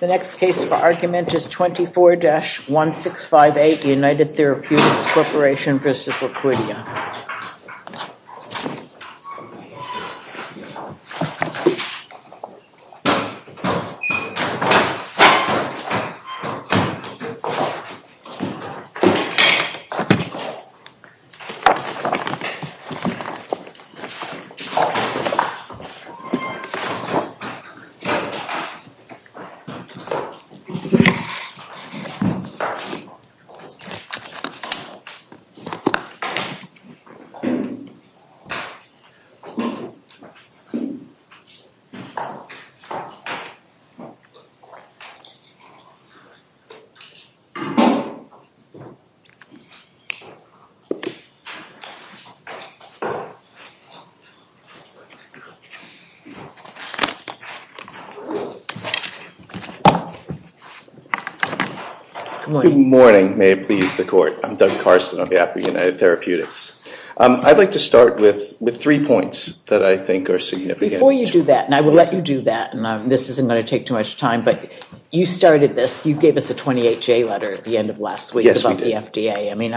The next case for argument is 24-1658 United Therapeutics Corporation v. Liquidia. The next case is 24-1658 United Therapeutics Corporation v. Liquidia. Good morning. May it please the court. I'm Doug Carson on behalf of United Therapeutics. I'd like to start with three points that I think are significant. Before you do that, and I will let you do that, and this isn't going to take too much time, but you started this. You gave us a 28-J letter at the end of last week about the FDA. I mean,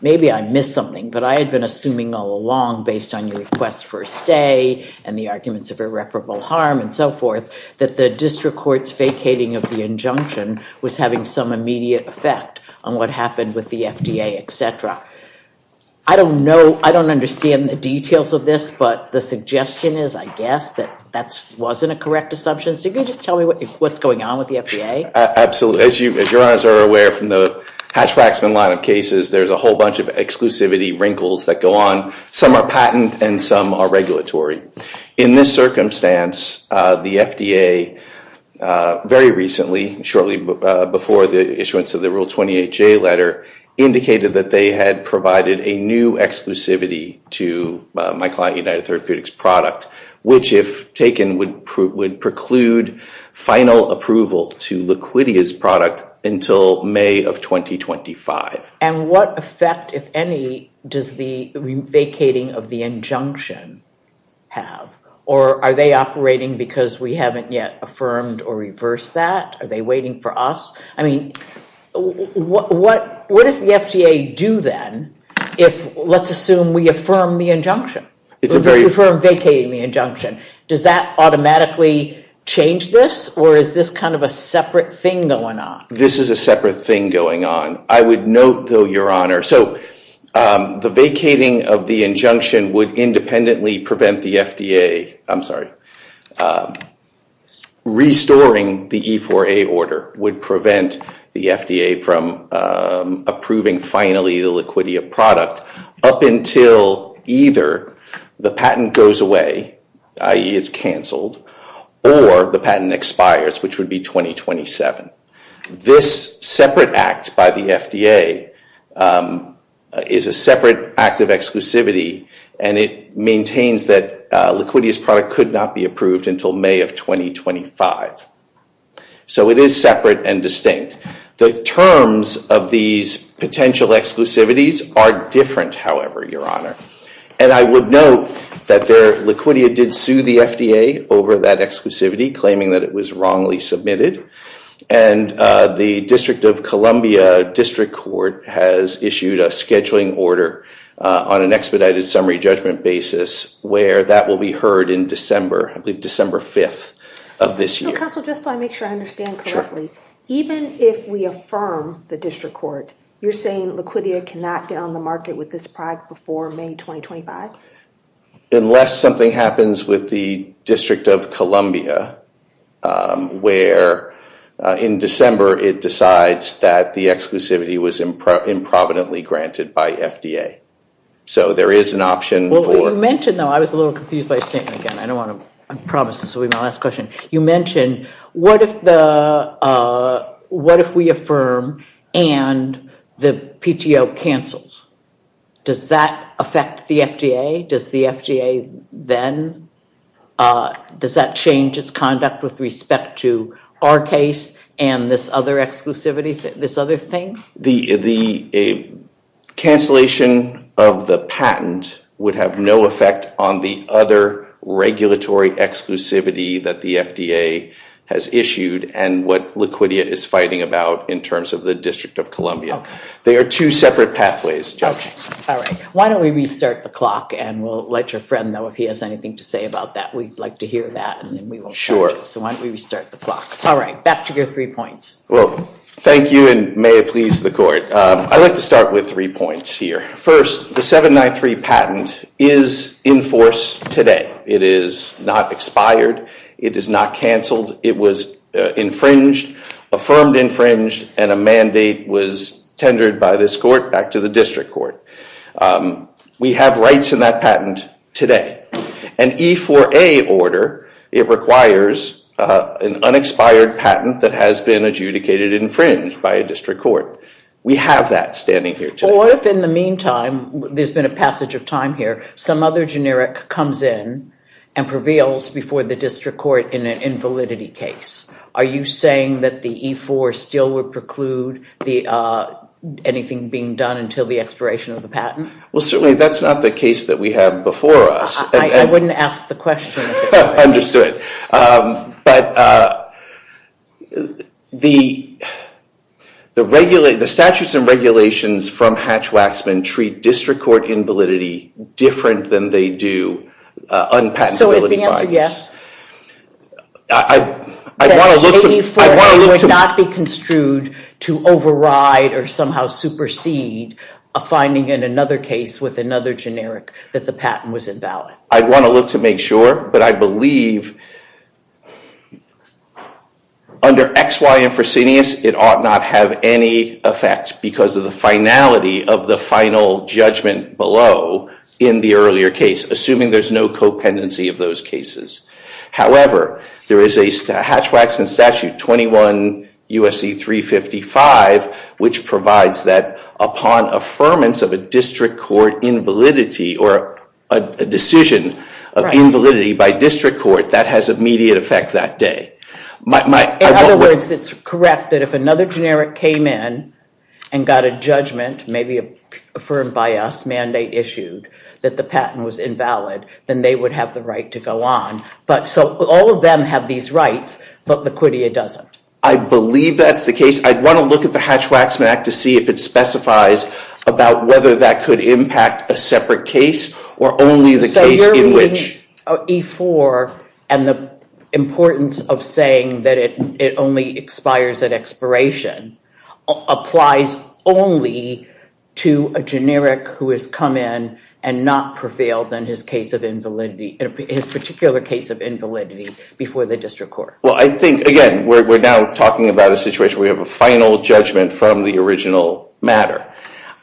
maybe I missed something, but I had been assuming all along, based on your request for a stay and the arguments of irreparable harm and so forth, that the district court's vacating of the injunction was having some immediate effect on what happened with the FDA, etc. I don't know, I don't understand the details of this, but the suggestion is, I guess, that that wasn't a correct assumption. So can you just tell me what's going on with the FDA? Absolutely. As your honors are aware from the Hatch-Waxman line of cases, there's a whole bunch of exclusivity wrinkles that go on. Some are patent and some are regulatory. In this circumstance, the FDA, very recently, shortly before the issuance of the Rule 28-J letter, indicated that they had provided a new exclusivity to MyClient United Therapeutics product, which, if taken, would preclude final approval to Liquidia's product until May of 2025. And what effect, if any, does the vacating of the injunction have? Or are they operating because we haven't yet affirmed or reversed that? Are they waiting for us? I mean, what does the FDA do, then, if, let's assume, we affirm the injunction? We affirm vacating the injunction. Does that automatically change this, or is this kind of a separate thing going on? This is a separate thing going on. I would note, though, your honor, so the vacating of the injunction would independently prevent the FDA, I'm sorry, restoring the E4A order would prevent the FDA from approving, finally, the Liquidia product up until either the patent goes away, i.e. it's canceled, or the patent expires, which would be 2027. This separate act by the FDA is a separate act of exclusivity, and it maintains that Liquidia's product could not be approved until May of 2025. So it is separate and distinct. The terms of these potential exclusivities are different, however, your honor. And I would note that Liquidia did sue the FDA over that exclusivity, claiming that it was wrongly submitted. And the District of Columbia District Court has issued a scheduling order on an expedited summary judgment basis where that will be heard in December, I believe December 5th of this year. Mr. Counsel, just so I make sure I understand correctly, even if we affirm the District Court, you're saying Liquidia cannot get on the market with this product before May 2025? Unless something happens with the District of Columbia, where in December it decides that the exclusivity was improvidently granted by FDA. So there is an option for- You mentioned, though, I was a little confused by a statement again. I don't want to, I promise this will be my last question. You mentioned, what if the, what if we affirm and the PTO cancels? Does that affect the FDA? Does the FDA then, does that change its conduct with respect to our case and this other exclusivity, this other thing? The cancellation of the patent would have no effect on the other regulatory exclusivity that the FDA has issued and what Liquidia is fighting about in terms of the District of Columbia. They are two separate pathways, Judge. All right. Why don't we restart the clock and we'll let your friend know if he has anything to say about that. We'd like to hear that and then we will- Sure. So why don't we restart the clock. All right. Back to your three points. Well, thank you and may it please the court. I'd like to start with three points here. First, the 793 patent is in force today. It is not expired. It is not canceled. It was infringed, affirmed infringed, and a mandate was tendered by this court back to the district court. We have rights in that patent today. An E4A order, it requires an unexpired patent that has been adjudicated, infringed by a district court. We have that standing here today. What if in the meantime, there's been a passage of time here, some other generic comes in and prevails before the district court in an invalidity case? Are you saying that the E4 still would preclude anything being done until the expiration of the patent? Well, certainly that's not the case that we have before us. I wouldn't ask the question. But the statutes and regulations from Hatch-Waxman treat district court invalidity different than they do unpatentability files. So is the answer yes? The E4A would not be construed to override or somehow supersede a finding in another case with another generic that the patent was invalid. I'd want to look to make sure, but I believe under X, Y, and Fresenius, it ought not have any effect because of the finality of the final judgment below in the earlier case, assuming there's no co-pendency of those cases. However, there is a Hatch-Waxman statute, 21 U.S.C. 355, which provides that upon affirmance of a district court invalidity or a decision of invalidity by district court, that has immediate effect that day. In other words, it's correct that if another generic came in and got a judgment, maybe a firm by us mandate issued, that the patent was invalid, then they would have the right to go on. So all of them have these rights, but Laquitia doesn't. I believe that's the case. I'd want to look at the Hatch-Waxman Act to see if it specifies about whether that could impact a separate case or only the case in which. E-4 and the importance of saying that it only expires at expiration applies only to a generic who has come in and not prevailed in his particular case of invalidity before the district court. Well, I think, again, we're now talking about a situation where we have a final judgment from the original matter.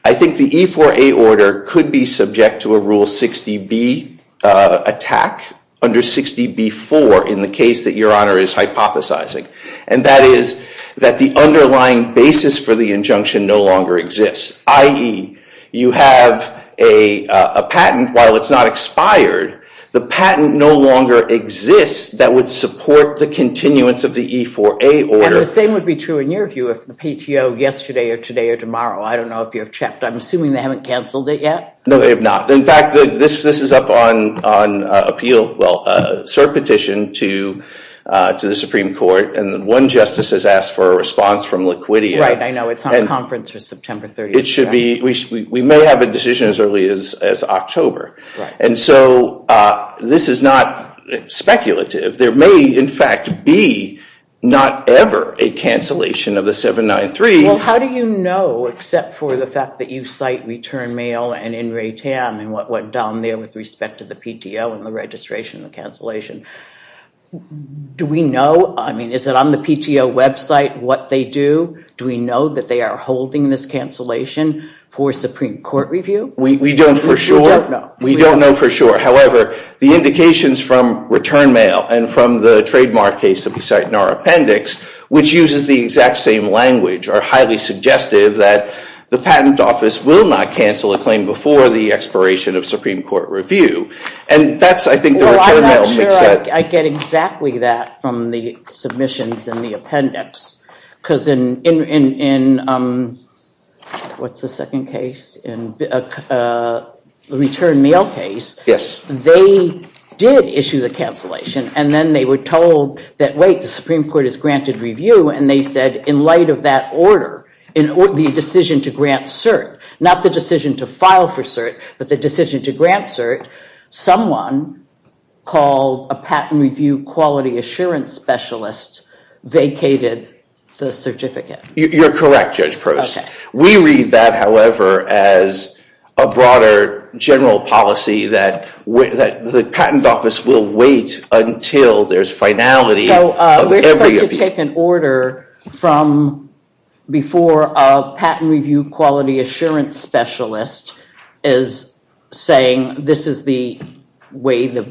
I think the E-4A order could be subject to a Rule 60B attack under 60B-4 in the case that Your Honor is hypothesizing. And that is that the underlying basis for the injunction no longer exists, i.e., you have a patent. While it's not expired, the patent no longer exists that would support the continuance of the E-4A order. And the same would be true in your view if the PTO yesterday or today or tomorrow, I don't know if you have checked. I'm assuming they haven't canceled it yet. No, they have not. In fact, this is up on appeal, well, cert petition to the Supreme Court. And one justice has asked for a response from Laquitia. Right, I know. It's on conference for September 30th. It should be. We may have a decision as early as October. Right. And so this is not speculative. There may, in fact, be not ever a cancellation of the 793. Well, how do you know except for the fact that you cite Return Mail and In re Tam and what went down there with respect to the PTO and the registration and the cancellation? Do we know? I mean, is it on the PTO website what they do? Do we know that they are holding this cancellation for Supreme Court review? We don't for sure. We don't know. We don't know for sure. However, the indications from Return Mail and from the trademark case that we cite in our appendix, which uses the exact same language, are highly suggestive that the patent office will not cancel a claim before the expiration of Supreme Court review. And that's, I think, the Return Mail makes sense. Well, I'm not sure I get exactly that from the submissions in the appendix. Because in the Return Mail case, they did issue the cancellation. And then they were told that, wait, the Supreme Court has granted review. And they said, in light of that order, the decision to grant cert, not the decision to file for cert, but the decision to grant cert, someone called a patent review quality assurance specialist vacated the certificate. You're correct, Judge Prost. We read that, however, as a broader general policy that the patent office will wait until there's finality of every appeal. We take an order from before a patent review quality assurance specialist is saying, this is the way that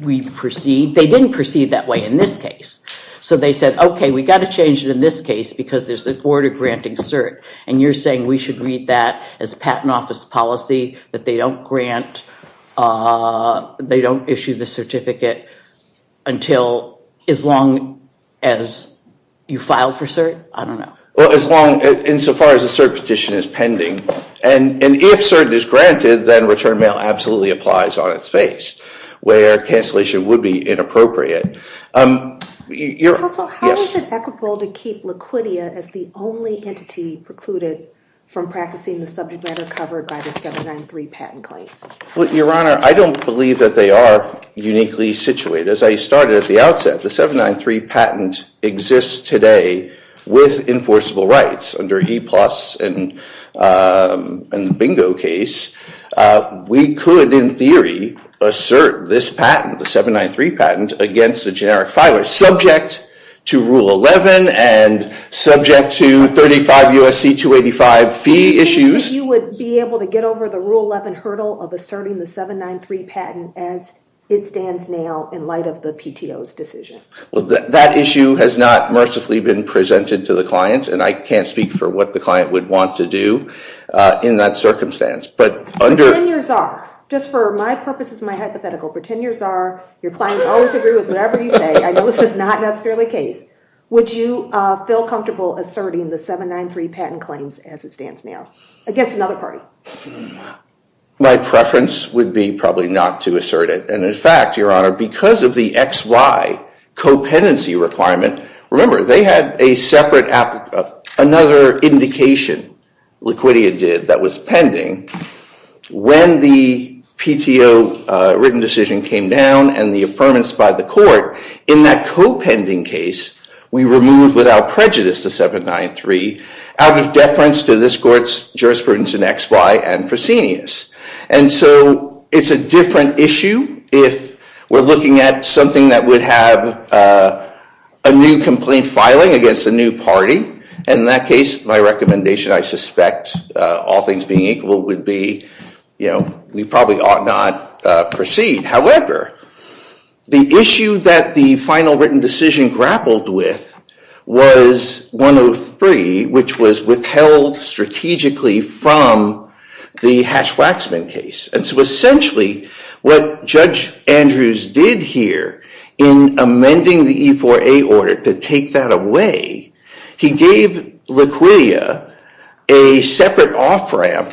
we proceed. They didn't proceed that way in this case. So they said, OK, we've got to change it in this case. Because there's an order granting cert. And you're saying we should read that as a patent office policy, that they don't issue the certificate until as long as you file for cert? I don't know. Well, insofar as the cert petition is pending. And if cert is granted, then Return Mail absolutely applies on its face, where cancellation would be inappropriate. Counsel, how is it equitable to keep Laquitia as the only entity precluded from practicing the subject matter covered by the 793 patent claims? Well, Your Honor, I don't believe that they are uniquely situated. As I started at the outset, the 793 patent exists today with enforceable rights. Under E-Plus and the Bingo case, we could, in theory, assert this patent, the 793 patent, against a generic filer subject to Rule 11 and subject to 35 U.S.C. 285 fee issues. You would be able to get over the Rule 11 hurdle of asserting the 793 patent as it stands now in light of the PTO's decision? Well, that issue has not mercifully been presented to the client. And I can't speak for what the client would want to do in that circumstance. But under- Pretend you're czar. Just for my purposes, my hypothetical, pretend you're czar. Your clients always agree with whatever you say. I know this is not necessarily the case. Would you feel comfortable asserting the 793 patent claims as it stands now against another party? My preference would be probably not to assert it. And in fact, Your Honor, because of the XY co-pendency requirement, remember, they had a separate, another indication, Liquidia did, that was pending. When the PTO written decision came down and the affirmance by the court, in that co-pending case, we removed without prejudice the 793 out of deference to this court's jurisprudence in XY and Fresenius. And so it's a different issue if we're looking at something that would have a new complaint filing against a new party. And in that case, my recommendation, I suspect, all things being equal, would be we probably ought not proceed. However, the issue that the final written decision grappled with was 103, which was withheld strategically from the Hatch-Waxman case. And so essentially, what Judge Andrews did here in amending the E4A order to take that away, he gave Liquidia a separate off-ramp,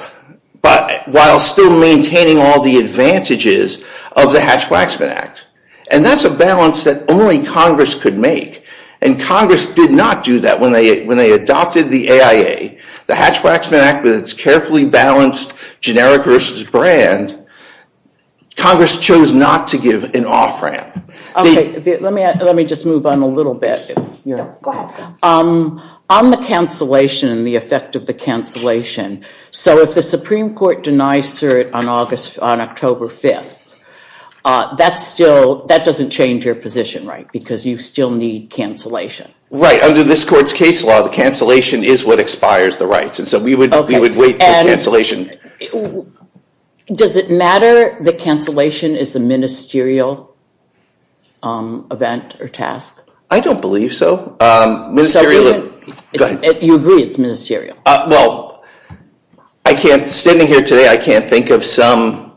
but while still maintaining all the advantages of the Hatch-Waxman Act. And that's a balance that only Congress could make. And Congress did not do that when they adopted the AIA. The Hatch-Waxman Act, with its carefully balanced generic versus brand, Congress chose not to give an off-ramp. Let me just move on a little bit. Go ahead. On the cancellation and the effect of the cancellation, so if the Supreme Court denies cert on October 5th, that doesn't change your position, right? Because you still need cancellation. Right. Under this court's case law, the cancellation is what expires the rights. And so we would wait for the cancellation. Does it matter the cancellation is a ministerial event or task? I don't believe so. You agree it's ministerial? Well, standing here today, I can't think of some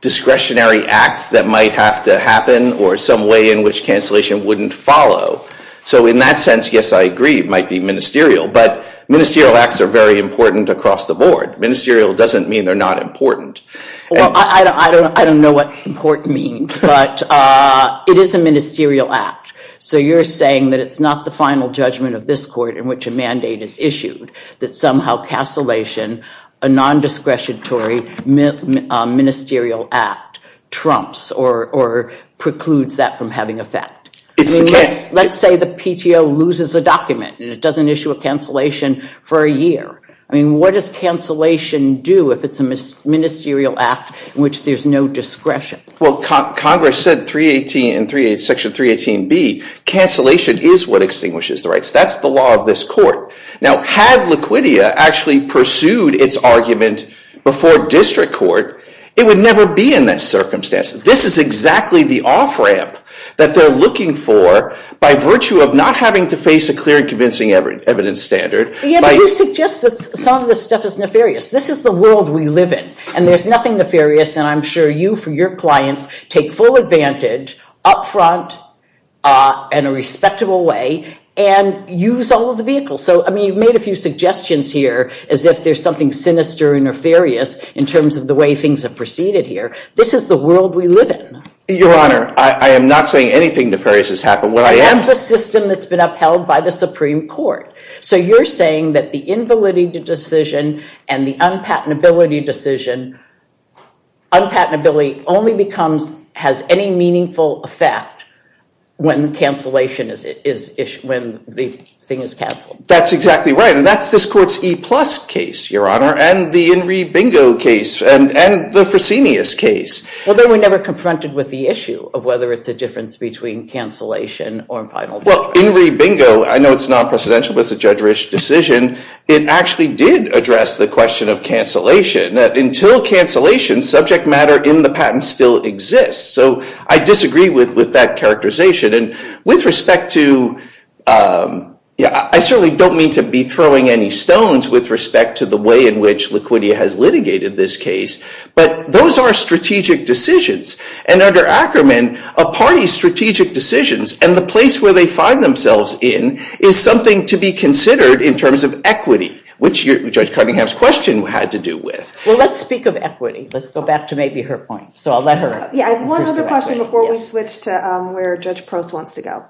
discretionary act that might have to happen or some way in which cancellation wouldn't follow. So in that sense, yes, I agree it might be ministerial. But ministerial acts are very important across the board. Ministerial doesn't mean they're not important. Well, I don't know what important means. But it is a ministerial act. So you're saying that it's not the final judgment of this court in which a mandate is issued, that somehow cancellation, a nondiscretionary ministerial act, trumps or precludes that from having effect. It's the case. Let's say the PTO loses a document and it doesn't issue a cancellation for a year. I mean, what does cancellation do if it's a ministerial act in which there's no discretion? Well, Congress said in Section 318B, cancellation is what extinguishes the rights. That's the law of this court. Now, had Laquitia actually pursued its argument before district court, it would never be in this circumstance. This is exactly the off-ramp that they're looking for by virtue of not having to face a clear and convincing evidence standard. Yeah, but you suggest that some of this stuff is nefarious. This is the world we live in. And there's nothing nefarious. And I'm sure you, for your clients, take full advantage up front in a respectable way and use all of the vehicles. So, I mean, you've made a few suggestions here as if there's something sinister and nefarious in terms of the way things have proceeded here. This is the world we live in. Your Honor, I am not saying anything nefarious has happened. That's the system that's been upheld by the Supreme Court. So you're saying that the invalidity decision and the unpatentability decision, unpatentability only has any meaningful effect when the thing is canceled. That's exactly right. And that's this court's E-plus case, Your Honor, and the In Re Bingo case, and the Fresenius case. Well, they were never confronted with the issue of whether it's a difference between cancellation or final verdict. Well, In Re Bingo, I know it's non-presidential, but it's a judge-ish decision. It actually did address the question of cancellation. Until cancellation, subject matter in the patent still exists. So I disagree with that characterization. And with respect to, yeah, I certainly don't mean to be throwing any stones with respect to the way in which Laquitia has litigated this case. But those are strategic decisions. And under Ackerman, a party's strategic decisions and the place where they find themselves in is something to be considered in terms of equity, which Judge Cunningham's question had to do with. Well, let's speak of equity. Let's go back to maybe her point. So I'll let her. Yeah, I have one other question before we switch to where Judge Post wants to go.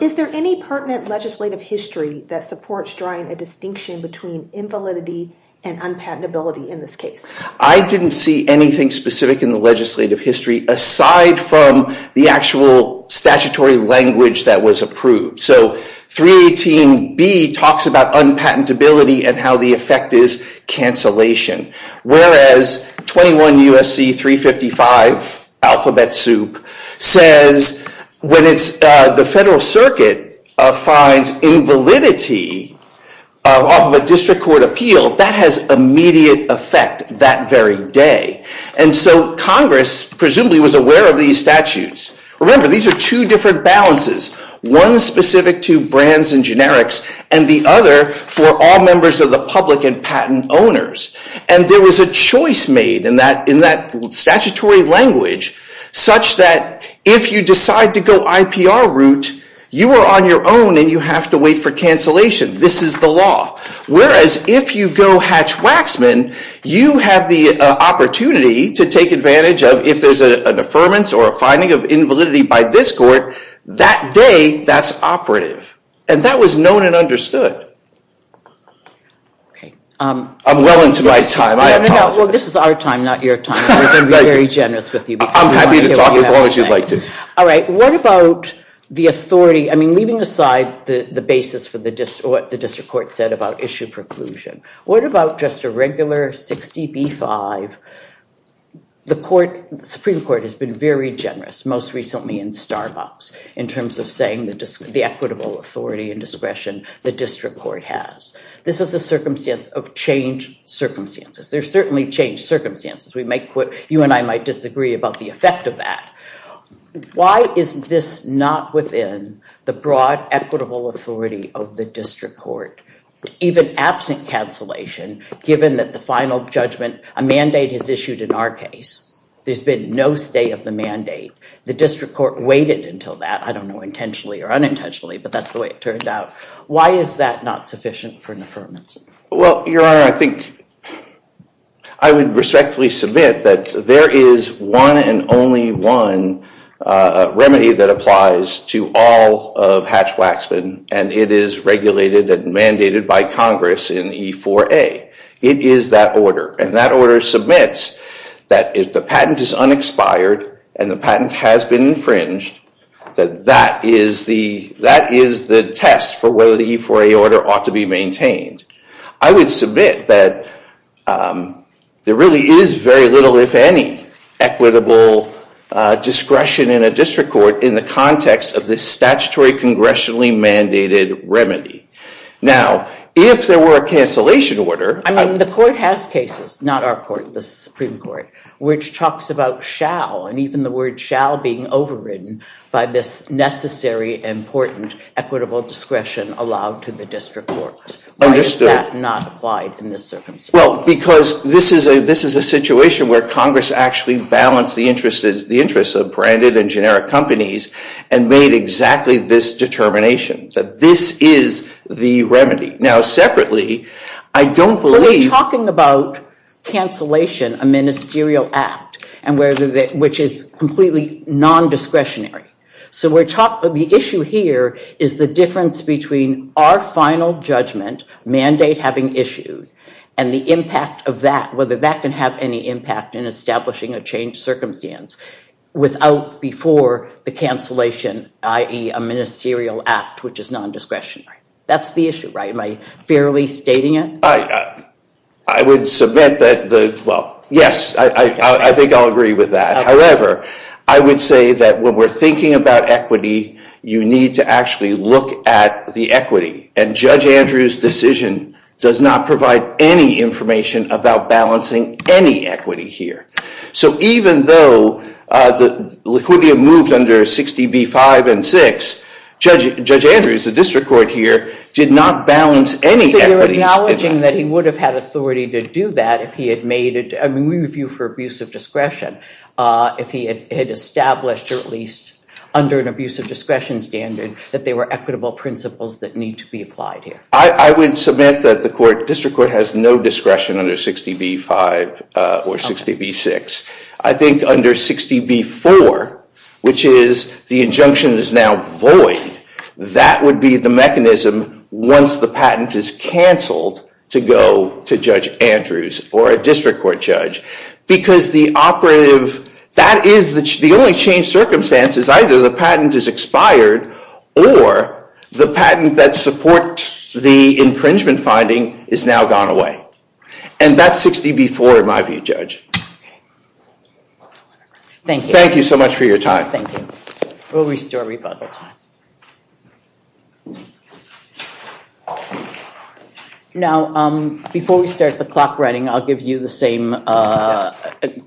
Is there any pertinent legislative history that supports drawing a distinction between invalidity and unpatentability in this case? I didn't see anything specific in the legislative history aside from the actual statutory language that was approved. So 318B talks about unpatentability and how the effect is cancellation. Whereas 21 U.S.C. 355, alphabet soup, says when the federal circuit finds invalidity off of a district court appeal, that has immediate effect that very day. And so Congress presumably was aware of these statutes. Remember, these are two different balances, one specific to brands and generics and the other for all members of the public and patent owners. And there was a choice made in that statutory language such that if you decide to go IPR route, you are on your own and you have to wait for cancellation. This is the law. Whereas if you go hatch-waxman, you have the opportunity to take advantage of if there's an affirmance or a finding of invalidity by this court, that day, that's operative. And that was known and understood. I'm well into my time. I apologize. Well, this is our time, not your time. We've been very generous with you. I'm happy to talk as long as you'd like to. All right. What about the authority? I mean, leaving aside the basis for what the district court said about issue preclusion, what about just a regular 60B-5? The Supreme Court has been very generous, most recently in Starbucks, in terms of saying the equitable authority and discretion the district court has. This is a circumstance of changed circumstances. There's certainly changed circumstances. You and I might disagree about the effect of that. Why is this not within the broad equitable authority of the district court, even absent cancellation, given that the final judgment, a mandate is issued in our case? There's been no stay of the mandate. The district court waited until that. I don't know intentionally or unintentionally, but that's the way it turned out. Why is that not sufficient for an affirmance? Well, Your Honor, I think I would respectfully submit that there is one and only one remedy that applies to all of Hatch-Waxman, and it is regulated and mandated by Congress in E-4A. It is that order. And that order submits that if the patent is unexpired and the patent has been infringed, that that is the test for whether the E-4A order ought to be maintained. I would submit that there really is very little, if any, equitable discretion in a district court in the context of this statutory, congressionally mandated remedy. Now, if there were a cancellation order- I mean, the court has cases, not our court, the Supreme Court, which talks about shall, and even the word shall being overridden by this necessary, important, equitable discretion allowed to the district court. Why is that not applied in this circumstance? Well, because this is a situation where Congress actually balanced the interests of branded and generic companies and made exactly this determination, that this is the remedy. Now, separately, I don't believe- But we're talking about cancellation, a ministerial act, which is completely non-discretionary. So the issue here is the difference between our final judgment, mandate having issued, and the impact of that, whether that can have any impact in establishing a changed circumstance without before the cancellation, i.e., a ministerial act, which is non-discretionary. That's the issue, right? Am I fairly stating it? I would submit that the- Well, yes, I think I'll agree with that. However, I would say that when we're thinking about equity, you need to actually look at the equity. And Judge Andrews' decision does not provide any information about balancing any equity here. So even though the liquidity had moved under 60B-5 and 6, Judge Andrews, the district court here, did not balance any equities. Acknowledging that he would have had authority to do that if he had made it- I mean, we review for abuse of discretion. If he had established, or at least under an abuse of discretion standard, that there were equitable principles that need to be applied here. I would submit that the district court has no discretion under 60B-5 or 60B-6. I think under 60B-4, which is the injunction is now void, that would be the mechanism, once the patent is canceled, to go to Judge Andrews or a district court judge. Because the operative- that is the only change circumstances. Either the patent is expired, or the patent that supports the infringement finding is now gone away. And that's 60B-4 in my view, Judge. Thank you. Thank you so much for your time. Thank you. We'll restore rebuttal time. Now, before we start the clock running, I'll give you the same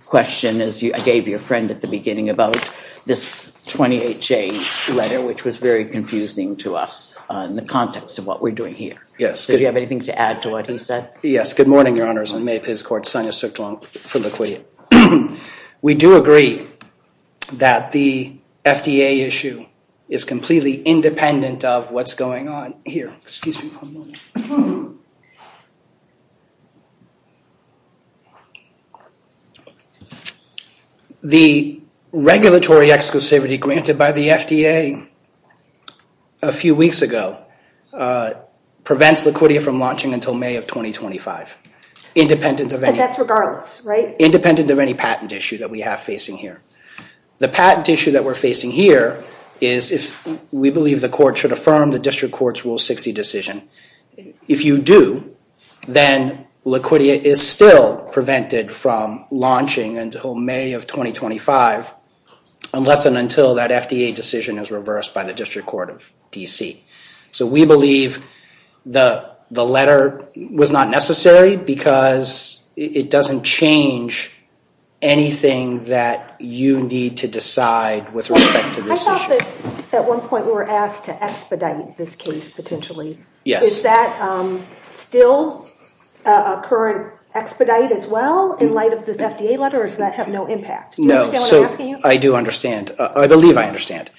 question as I gave your friend at the beginning about this 20HA letter, which was very confusing to us in the context of what we're doing here. Yes. Did you have anything to add to what he said? Yes. Good morning, Your Honors. I'm May Piz Court's Sonia Sukjong from Laquitia. We do agree that the FDA issue is completely independent of what's going on here. Excuse me for a moment. The regulatory exclusivity granted by the FDA a few weeks ago prevents Laquitia from launching until May of 2025, independent of any- But that's regardless, right? Independent of any patent issue that we have facing here. The patent issue that we're facing here is if we believe the court should affirm the district court's Rule 60 decision. If you do, then Laquitia is still prevented from launching until May of 2025, unless and until that FDA decision is reversed by the District Court of D.C. So we believe the letter was not necessary because it doesn't change anything that you need to decide with respect to this issue. I thought that at one point we were asked to expedite this case potentially. Yes. Is that still a current expedite as well in light of this FDA letter or does that have no impact? Do you understand what I'm asking you? I do understand. I believe I understand.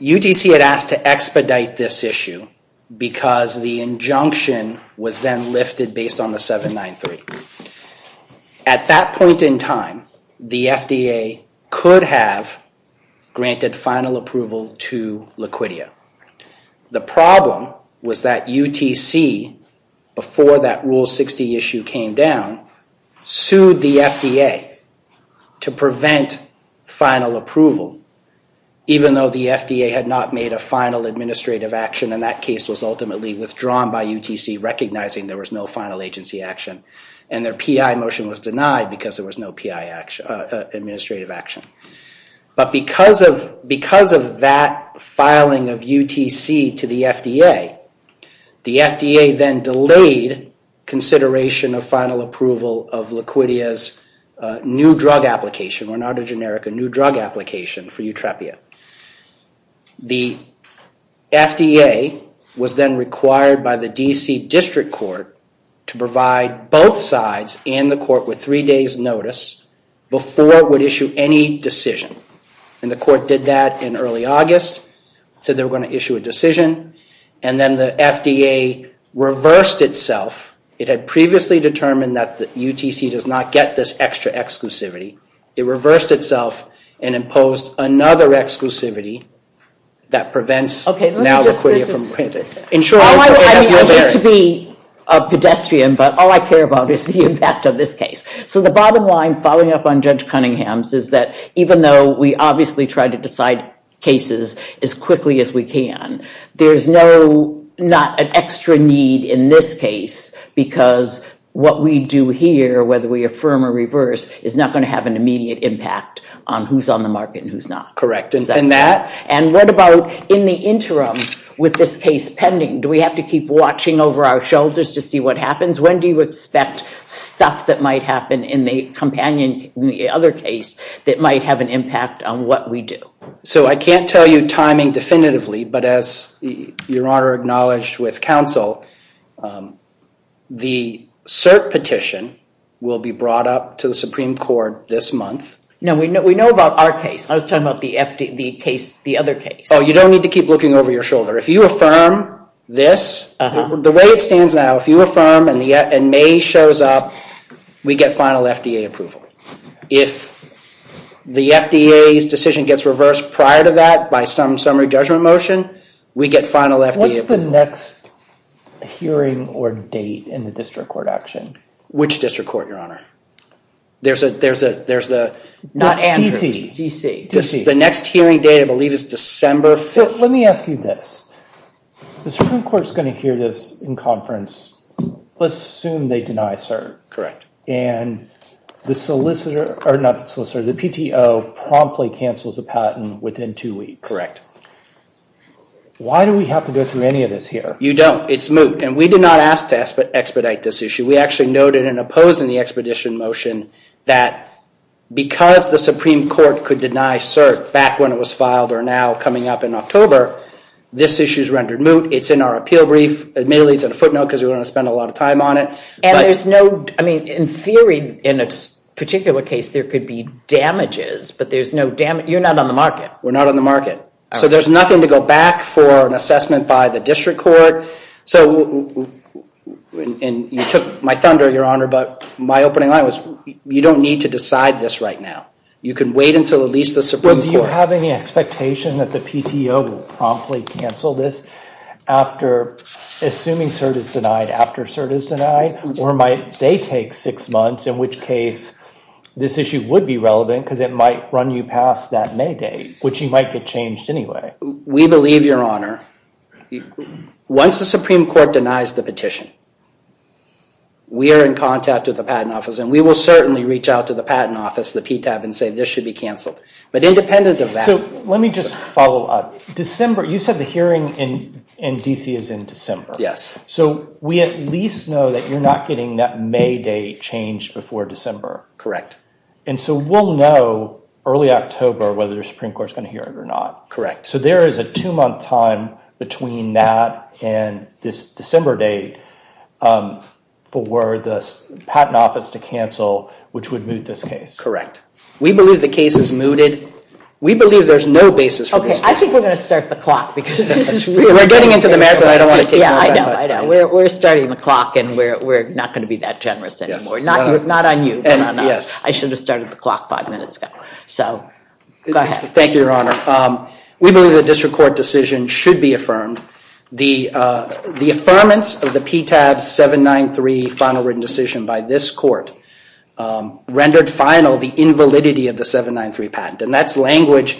UTC had asked to expedite this issue because the injunction was then lifted based on the 793. At that point in time, the FDA could have granted final approval to Laquitia. The problem was that UTC, before that Rule 60 issue came down, sued the FDA to prevent final approval, even though the FDA had not made a final administrative action and that case was ultimately withdrawn by UTC, recognizing there was no final agency action and their PI motion was denied because there was no PI administrative action. But because of that filing of UTC to the FDA, the FDA then delayed consideration of final approval of Laquitia's new drug application, or not a generic, a new drug application for Utrepia. The FDA was then required by the D.C. District Court to provide both sides and the court with three days' notice before it would issue any decision. And the court did that in early August, said they were going to issue a decision, and then the FDA reversed itself. It had previously determined that UTC does not get this extra exclusivity. It reversed itself and imposed another exclusivity that prevents now Laquitia from printing. I hate to be a pedestrian, but all I care about is the impact of this case. So the bottom line, following up on Judge Cunningham's, is that even though we obviously try to decide cases as quickly as we can, there's not an extra need in this case because what we do here, whether we affirm or reverse, is not going to have an immediate impact on who's on the market and who's not. Correct. And what about in the interim with this case pending? Do we have to keep watching over our shoulders to see what happens? When do you expect stuff that might happen in the companion, in the other case, that might have an impact on what we do? So I can't tell you timing definitively, but as Your Honor acknowledged with counsel, the cert petition will be brought up to the Supreme Court this month. No, we know about our case. I was talking about the other case. Oh, you don't need to keep looking over your shoulder. If you affirm this, the way it stands now, if you affirm and May shows up, we get final FDA approval. If the FDA's decision gets reversed prior to that by some summary judgment motion, we get final FDA approval. What's the next hearing or date in the district court action? Which district court, Your Honor? There's the... D.C. The next hearing date, I believe, is December 5th. So let me ask you this. The Supreme Court's going to hear this in conference. Let's assume they deny cert. Correct. And the solicitor, or not the solicitor, the PTO promptly cancels the patent within two weeks. Why do we have to go through any of this here? You don't. It's moot. And we did not ask to expedite this issue. We actually noted in opposing the expedition motion that because the Supreme Court could deny cert back when it was filed or now coming up in October, this issue is rendered moot. It's in our appeal brief. Admittedly, it's in a footnote because we're going to spend a lot of time on it. And there's no... I mean, in theory, in this particular case, there could be damages, but there's no damage. You're not on the market. We're not on the market. So there's nothing to go back for an assessment by the district court. And you took my thunder, Your Honor, but my opening line was you don't need to decide this right now. You can wait until at least the Supreme Court... Do you have any expectation that the PTO will promptly cancel this after assuming cert is denied, after cert is denied? Or might they take six months, in which case this issue would be relevant because it might run you past that May date, which you might get changed anyway. We believe, Your Honor... Once the Supreme Court denies the petition, we are in contact with the Patent Office, and we will certainly reach out to the Patent Office, the PTAB, and say this should be canceled. But independent of that... So let me just follow up. December, you said the hearing in D.C. is in December. Yes. So we at least know that you're not getting that May date changed before December. Correct. And so we'll know early October whether the Supreme Court is going to hear it or not. Correct. So there is a two-month time between that and this December date for the Patent Office to cancel, which would moot this case. Correct. We believe the case is mooted. We believe there's no basis for this... Okay, I think we're going to start the clock because this is really... We're getting into the marathon. I don't want to take... Yeah, I know, I know. We're starting the clock, and we're not going to be that generous anymore. Not on you, but on us. Yes. I should have started the clock five minutes ago. So, go ahead. Thank you, Your Honor. We believe the district court decision should be affirmed. The affirmance of the PTAB 793 final written decision by this court rendered final the invalidity of the 793 patent, and that's language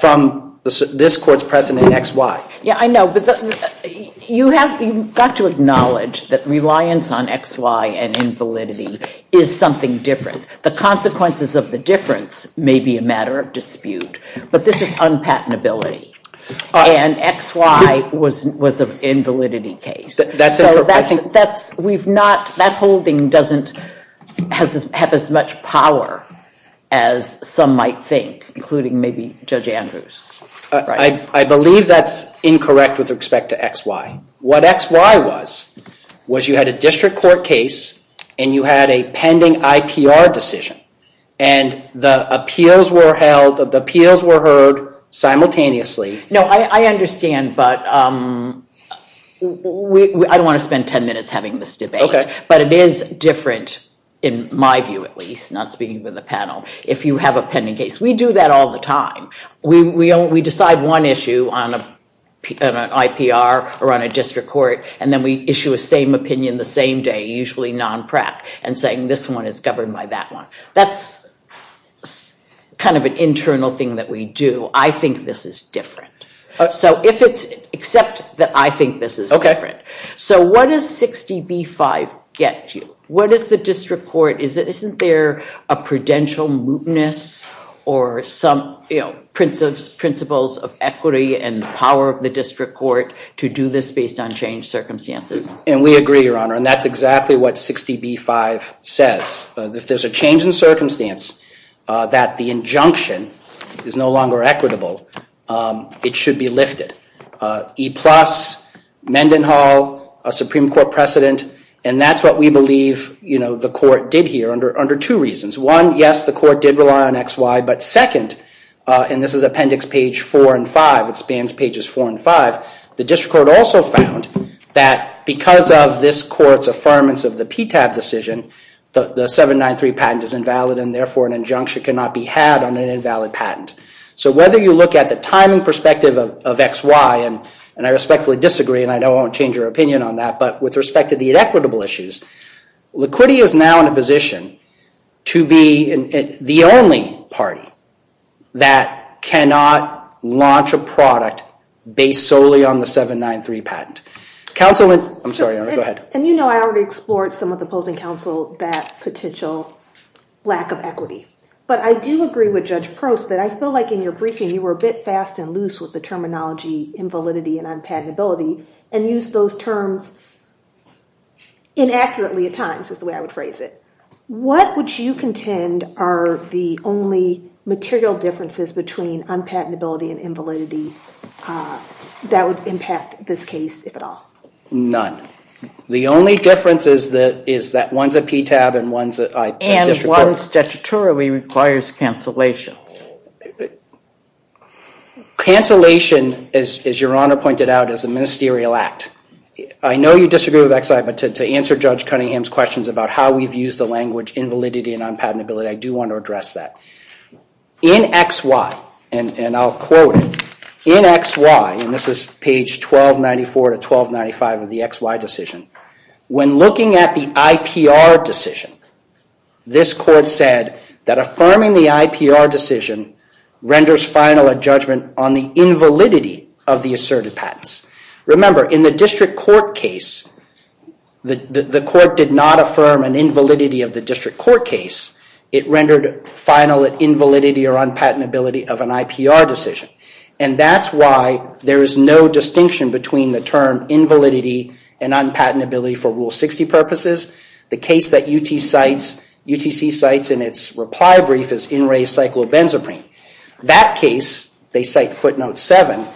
from this court's precedent in X, Y. Yeah, I know, but you have got to acknowledge that reliance on X, Y and invalidity is something different. The consequences of the difference may be a matter of dispute, but this is unpatentability, and X, Y was an invalidity case. That's a perfect... That's... We've not... That holding doesn't have as much power as some might think, including maybe Judge Andrews. I believe that's incorrect with respect to X, Y. What X, Y was, was you had a district court case, and you had a pending IPR decision, and the appeals were held, the appeals were heard simultaneously. No, I understand, but I don't want to spend 10 minutes having this debate. Okay. But it is different, in my view at least, not speaking for the panel, if you have a pending case. We do that all the time. We decide one issue on an IPR or on a district court, and then we issue a same opinion the same day, usually non-PRAC, and saying this one is governed by that one. That's kind of an internal thing that we do. I think this is different. So if it's... Except that I think this is different. Okay. So what does 60B-5 get you? What does the district court... Isn't there a prudential mootness or some principles of equity and power of the district court to do this based on changed circumstances? And we agree, Your Honor, and that's exactly what 60B-5 says. If there's a change in circumstance that the injunction is no longer equitable, it should be lifted. E-plus, Mendenhall, a Supreme Court precedent, and that's what we believe the court did here under two reasons. One, yes, the court did rely on XY, but second, and this is appendix page 4 and 5, it spans pages 4 and 5, the district court also found that because of this court's affirmance of the PTAB decision, the 793 patent is invalid, and therefore an injunction cannot be had on an invalid patent. So whether you look at the timing perspective of XY, and I respectfully disagree, and I won't change your opinion on that, but with respect to the equitable issues, liquidity is now in a position to be the only party that cannot launch a product based solely on the 793 patent. Counsel, I'm sorry, go ahead. And you know I already explored some of the opposing counsel that potential lack of equity, but I do agree with Judge Prost that I feel like in your briefing you were a bit fast and loose with the terminology invalidity and unpatentability and used those terms inaccurately at times, is the way I would phrase it. What would you contend are the only material differences between unpatentability and invalidity that would impact this case, if at all? None. The only difference is that one's a PTAB and one's a district court. And one statutorily requires cancellation. Cancellation, as your Honor pointed out, is a ministerial act. I know you disagree with XY, but to answer Judge Cunningham's questions about how we've used the language invalidity and unpatentability, I do want to address that. In XY, and I'll quote it, in XY, and this is page 1294 to 1295 of the XY decision, when looking at the IPR decision, this court said that affirming the IPR decision renders final a judgment on the invalidity of the asserted patents. Remember, in the district court case, the court did not affirm an invalidity of the district court case. It rendered final an invalidity or unpatentability of an IPR decision. And that's why there is no distinction between the term invalidity and unpatentability for Rule 60 purposes. The case that UTC cites in its reply brief is In Re Cyclobenzaprine. That case, they cite footnote 7,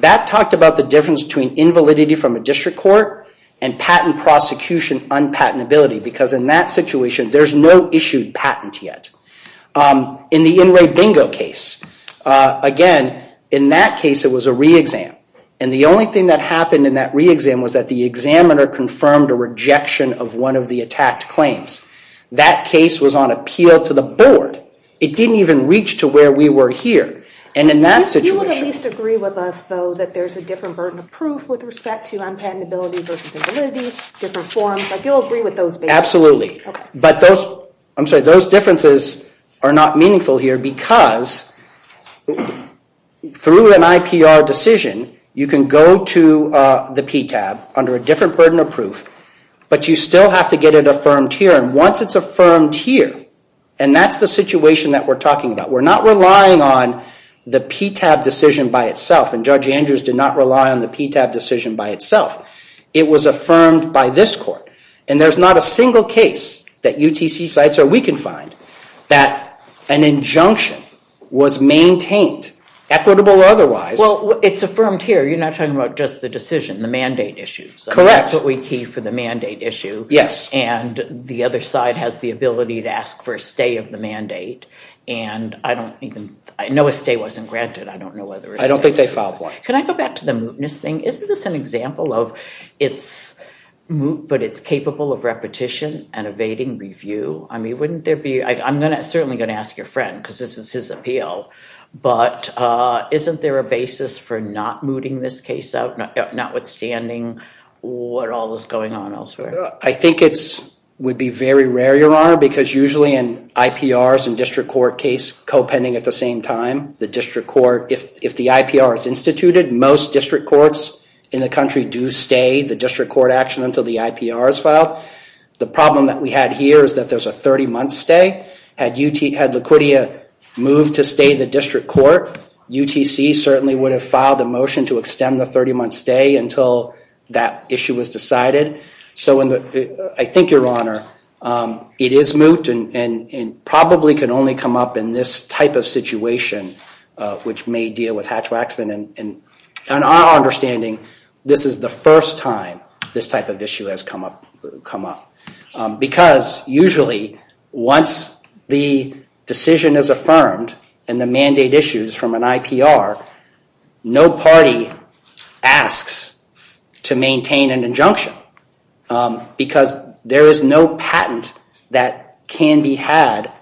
that talked about the difference between invalidity from a district court and patent prosecution unpatentability. Because in that situation, there's no issued patent yet. In the In Re Dingo case, again, in that case, it was a re-exam. And the only thing that happened in that re-exam was that the examiner confirmed a rejection of one of the attacked claims. That case was on appeal to the board. It didn't even reach to where we were here. And in that situation- You would at least agree with us, though, that there's a different burden of proof with respect to unpatentability versus invalidity, different forms. I do agree with those basics. Absolutely. But those differences are not meaningful here because through an IPR decision, you can go to the PTAB under a different burden of proof. But you still have to get it affirmed here. And once it's affirmed here, and that's the situation that we're talking about, we're not relying on the PTAB decision by itself. And Judge Andrews did not rely on the PTAB decision by itself. It was affirmed by this court. And there's not a single case that UTC sites or we can find that an injunction was maintained, equitable or otherwise. Well, it's affirmed here. You're not talking about just the decision, the mandate issues. Correct. That's what we key for the mandate issue. Yes. And the other side has the ability to ask for a stay of the mandate. And I don't even know a stay wasn't granted. I don't know whether- I don't think they filed one. Can I go back to the mootness thing? Isn't this an example of it's moot, but it's capable of repetition and evading review? I mean, wouldn't there be- I'm certainly going to ask your friend, because this is his appeal. But isn't there a basis for not mooting this case out, notwithstanding what all is going on elsewhere? I think it would be very rare, Your Honor, because usually in IPRs and district court case co-pending at the same time, if the IPR is instituted, most district courts in the country do stay the district court action until the IPR is filed. The problem that we had here is that there's a 30-month stay. Had Laquitia moved to stay the district court, UTC certainly would have filed a motion to extend the 30-month stay until that issue was decided. So I think, Your Honor, it is moot and probably can only come up in this type of situation, which may deal with Hatch-Waxman. And in our understanding, this is the first time this type of issue has come up. Because usually once the decision is affirmed and the mandate issues from an IPR, no party asks to maintain an injunction. Because there is no patent that can be had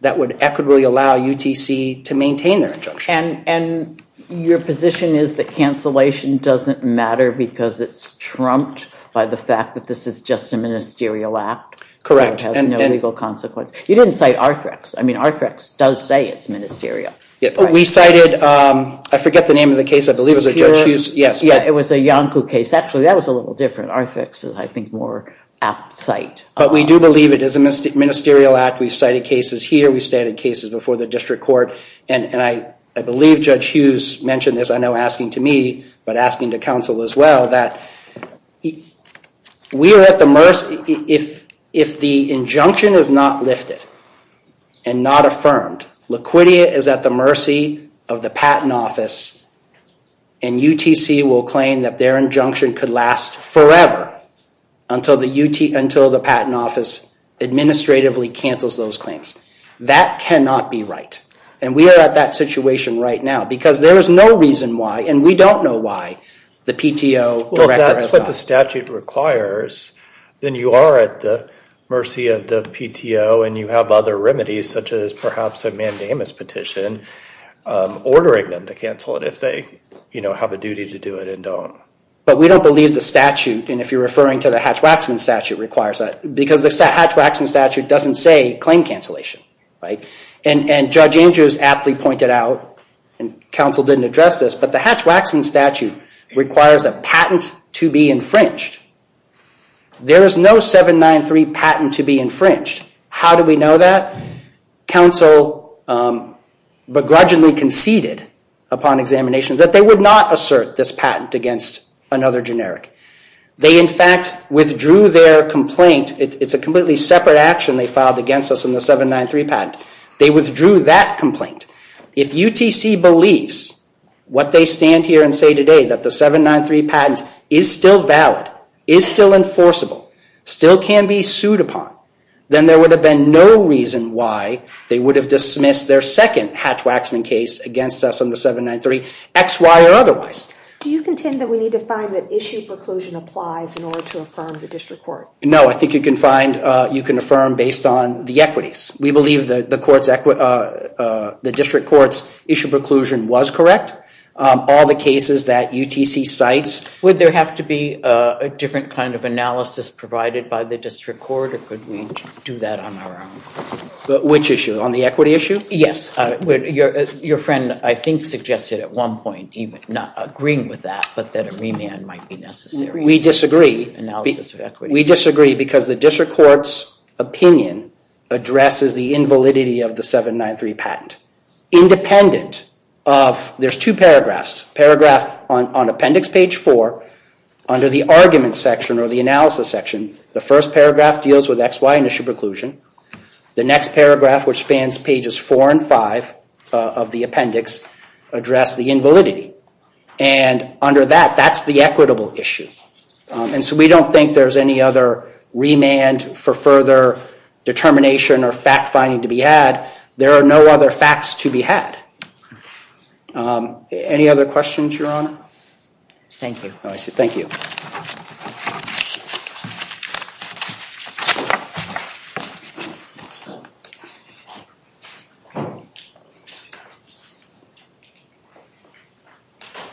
that would equitably allow UTC to maintain their injunction. And your position is that cancellation doesn't matter because it's trumped by the fact that this is just a ministerial act? Correct. So it has no legal consequence. You didn't cite Arthrex. I mean, Arthrex does say it's ministerial. We cited, I forget the name of the case, I believe it was Judge Hughes. Yeah, it was a Yonkou case. Actually, that was a little different. Arthrex is, I think, more at site. But we do believe it is a ministerial act. We cited cases here. We cited cases before the district court. And I believe Judge Hughes mentioned this, I know, asking to me, but asking to counsel as well, that we are at the mercy, if the injunction is not lifted and not affirmed, Laquitia is at the mercy of the Patent Office and UTC will claim that their injunction could last forever until the Patent Office administratively cancels those claims. That cannot be right. And we are at that situation right now because there is no reason why, and we don't know why, the PTO director has not. Well, if that's what the statute requires, then you are at the mercy of the PTO and you have other remedies, such as perhaps a mandamus petition, ordering them to cancel it if they have a duty to do it and don't. But we don't believe the statute, and if you're referring to the Hatch-Waxman statute requires that, because the Hatch-Waxman statute doesn't say claim cancellation. And Judge Andrews aptly pointed out, and counsel didn't address this, but the Hatch-Waxman statute requires a patent to be infringed. There is no 793 patent to be infringed. How do we know that? Counsel begrudgingly conceded upon examination that they would not assert this patent against another generic. They in fact withdrew their complaint. It's a completely separate action they filed against us in the 793 patent. They withdrew that complaint. If UTC believes what they stand here and say today, that the 793 patent is still valid, is still enforceable, still can be sued upon, then there would have been no reason why they would have dismissed their second Hatch-Waxman case against us on the 793, X, Y, or otherwise. Do you contend that we need to find that issue preclusion applies in order to affirm the district court? No, I think you can find, you can affirm based on the equities. We believe that the district court's issue preclusion was correct. All the cases that UTC cites. Would there have to be a different kind of analysis provided by the district court? Or could we do that on our own? Which issue? On the equity issue? Yes. Your friend, I think, suggested at one point, not agreeing with that, but that a remand might be necessary. We disagree. We disagree because the district court's opinion addresses the invalidity of the 793 patent. Independent of, there's two paragraphs. Paragraph on appendix page 4, under the argument section or the analysis section, the first paragraph deals with X, Y, and issue preclusion. The next paragraph, which spans pages 4 and 5 of the appendix, address the invalidity. And under that, that's the equitable issue. And so we don't think there's any other remand for further determination or fact finding to be had. There are no other facts to be had. Any other questions, Your Honor? Thank you. Thank you.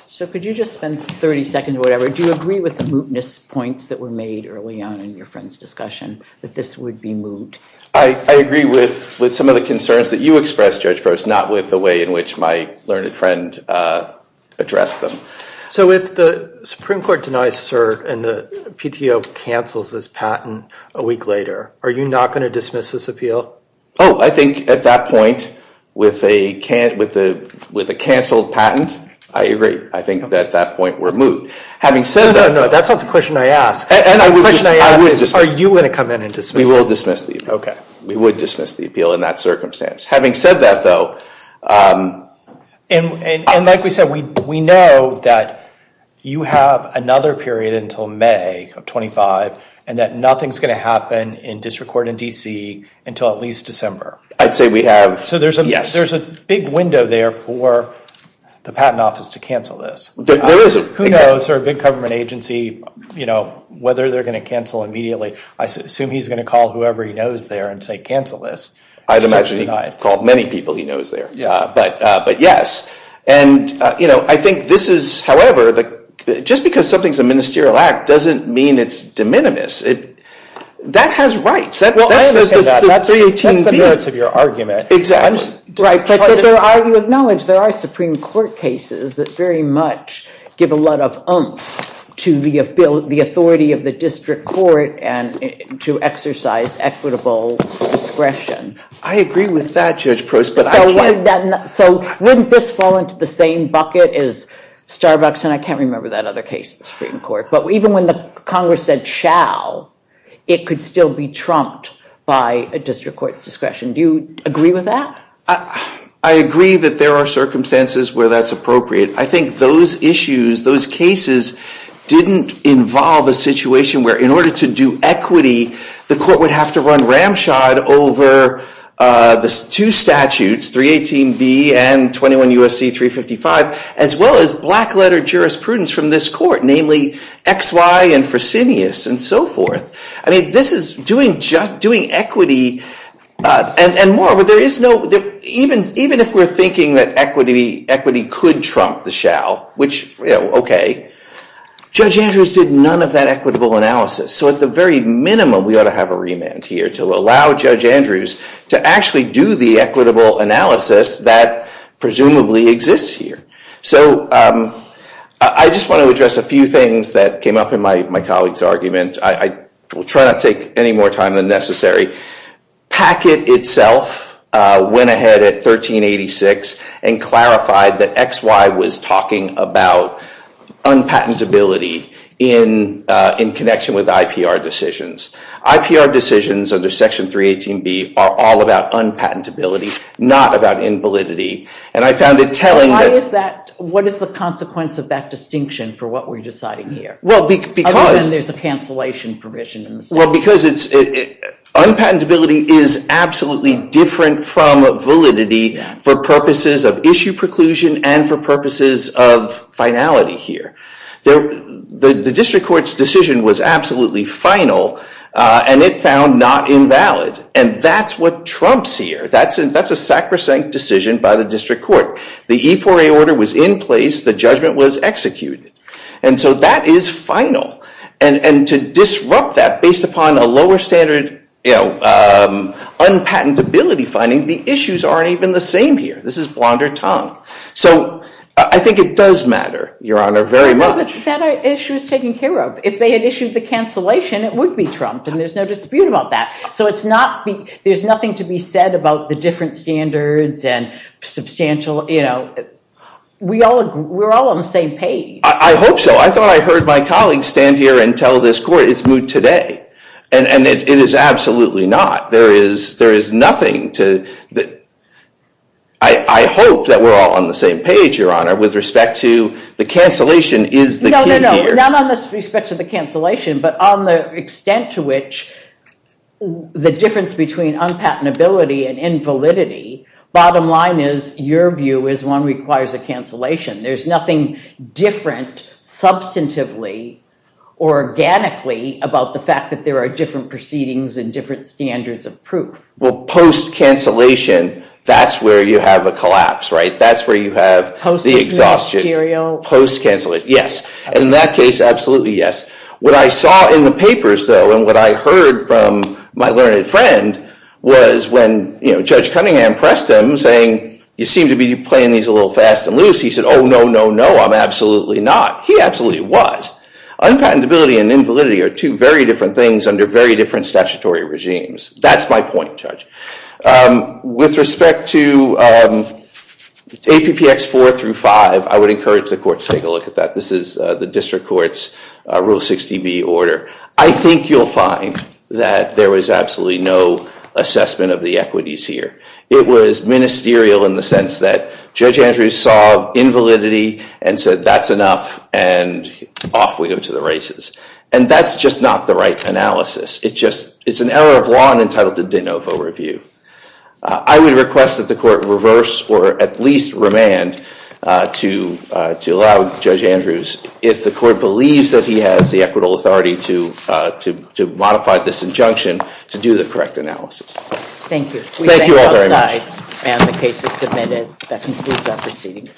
So could you just spend 30 seconds or whatever? Do you agree with the mootness points that were made early on in your friend's discussion, that this would be moot? I agree with some of the concerns that you expressed, Judge Gross, not with the way in which my learned friend addressed them. So if the Supreme Court denies cert and the PTO cancels this patent a week later, are you not going to dismiss this appeal? Oh, I think at that point, with a canceled patent, I agree. I think that at that point, we're moot. No, no, no. That's not the question I asked. The question I asked is, are you going to come in and dismiss it? We will dismiss the appeal. We would dismiss the appeal in that circumstance. Having said that, though, And like we said, we know that you have another period until May of 25, and that nothing's going to happen in district court in DC until at least December. I'd say we have, yes. There's a big window there for the Patent Office to cancel this. There isn't. Who knows? They're a big government agency. Whether they're going to cancel immediately, I assume he's going to call whoever he knows there and say, cancel this. I'd imagine he called many people he knows there, but yes. And I think this is, however, just because something's a ministerial act doesn't mean it's de minimis. That has rights. Well, I understand that. That's the merits of your argument. Exactly. But there are, you acknowledge, there are Supreme Court cases that very much give a lot of oomph to the authority of the district court and to exercise equitable discretion. I agree with that, Judge Proust, but I can't. So wouldn't this fall into the same bucket as Starbucks, and I can't remember that other case in the Supreme Court, but even when the Congress said shall, it could still be trumped by a district court's discretion. Do you agree with that? I agree that there are circumstances where that's appropriate. I think those issues, those cases, didn't involve a situation where in order to do equity, the court would have to run ramshod over the two statutes, 318B and 21 U.S.C. 355, as well as black-letter jurisprudence from this court, namely XY and Fresenius and so forth. I mean, this is doing equity, and moreover, there is no, even if we're thinking that equity could trump the shall, which, you know, okay, Judge Andrews did none of that equitable analysis. So at the very minimum, we ought to have a remand here to allow Judge Andrews to actually do the equitable analysis that presumably exists here. So I just want to address a few things that came up in my colleague's argument. I will try not to take any more time than necessary. Packett itself went ahead at 1386 and clarified that XY was talking about unpatentability in connection with IPR decisions. IPR decisions under Section 318B are all about unpatentability, not about invalidity, and I found it telling that... Why is that? What is the consequence of that distinction for what we're deciding here? Well, because... Other than there's a cancellation provision. Well, because unpatentability is absolutely different from validity for purposes of issue preclusion and for purposes of finality here. The district court's decision was absolutely final, and it found not invalid, and that's what trumps here. That's a sacrosanct decision by the district court. The E4A order was in place. The judgment was executed. And so that is final, and to disrupt that based upon a lower standard unpatentability finding, the issues aren't even the same here. This is blonder tongue. So I think it does matter, Your Honor, very much. But that issue is taken care of. If they had issued the cancellation, it would be trumped, and there's no dispute about that. So there's nothing to be said about the different standards and substantial... We're all on the same page. I hope so. I thought I heard my colleagues stand here and tell this court it's moot today, and it is absolutely not. There is nothing to... I hope that we're all on the same page, Your Honor, with respect to the cancellation is the key here. No, no, no, not on the respect to the cancellation, but on the extent to which the difference between unpatentability and invalidity, bottom line is your view is one requires a cancellation. There's nothing different substantively or organically about the fact that there are different proceedings and different standards of proof. Well, post-cancellation, that's where you have a collapse, right? That's where you have the exhaustion. Post-cancellation, yes. In that case, absolutely yes. What I saw in the papers, though, and what I heard from my learned friend was when Judge Cunningham pressed him saying, you seem to be playing these a little fast and loose. He said, oh, no, no, no, I'm absolutely not. He absolutely was. Unpatentability and invalidity are two very different things under very different statutory regimes. That's my point, Judge. With respect to APPX 4 through 5, I would encourage the court to take a look at that. This is the district court's Rule 60B order. I think you'll find that there was absolutely no assessment of the equities here. It was ministerial in the sense that Judge Andrews saw invalidity and said that's enough and off we go to the races. And that's just not the right analysis. It's an error of law entitled the de novo review. I would request that the court reverse or at least remand to allow Judge Andrews, if the court believes that he has the equitable authority to modify this injunction, to do the correct analysis. Thank you. Thank you all very much. The case is submitted. That concludes our proceeding.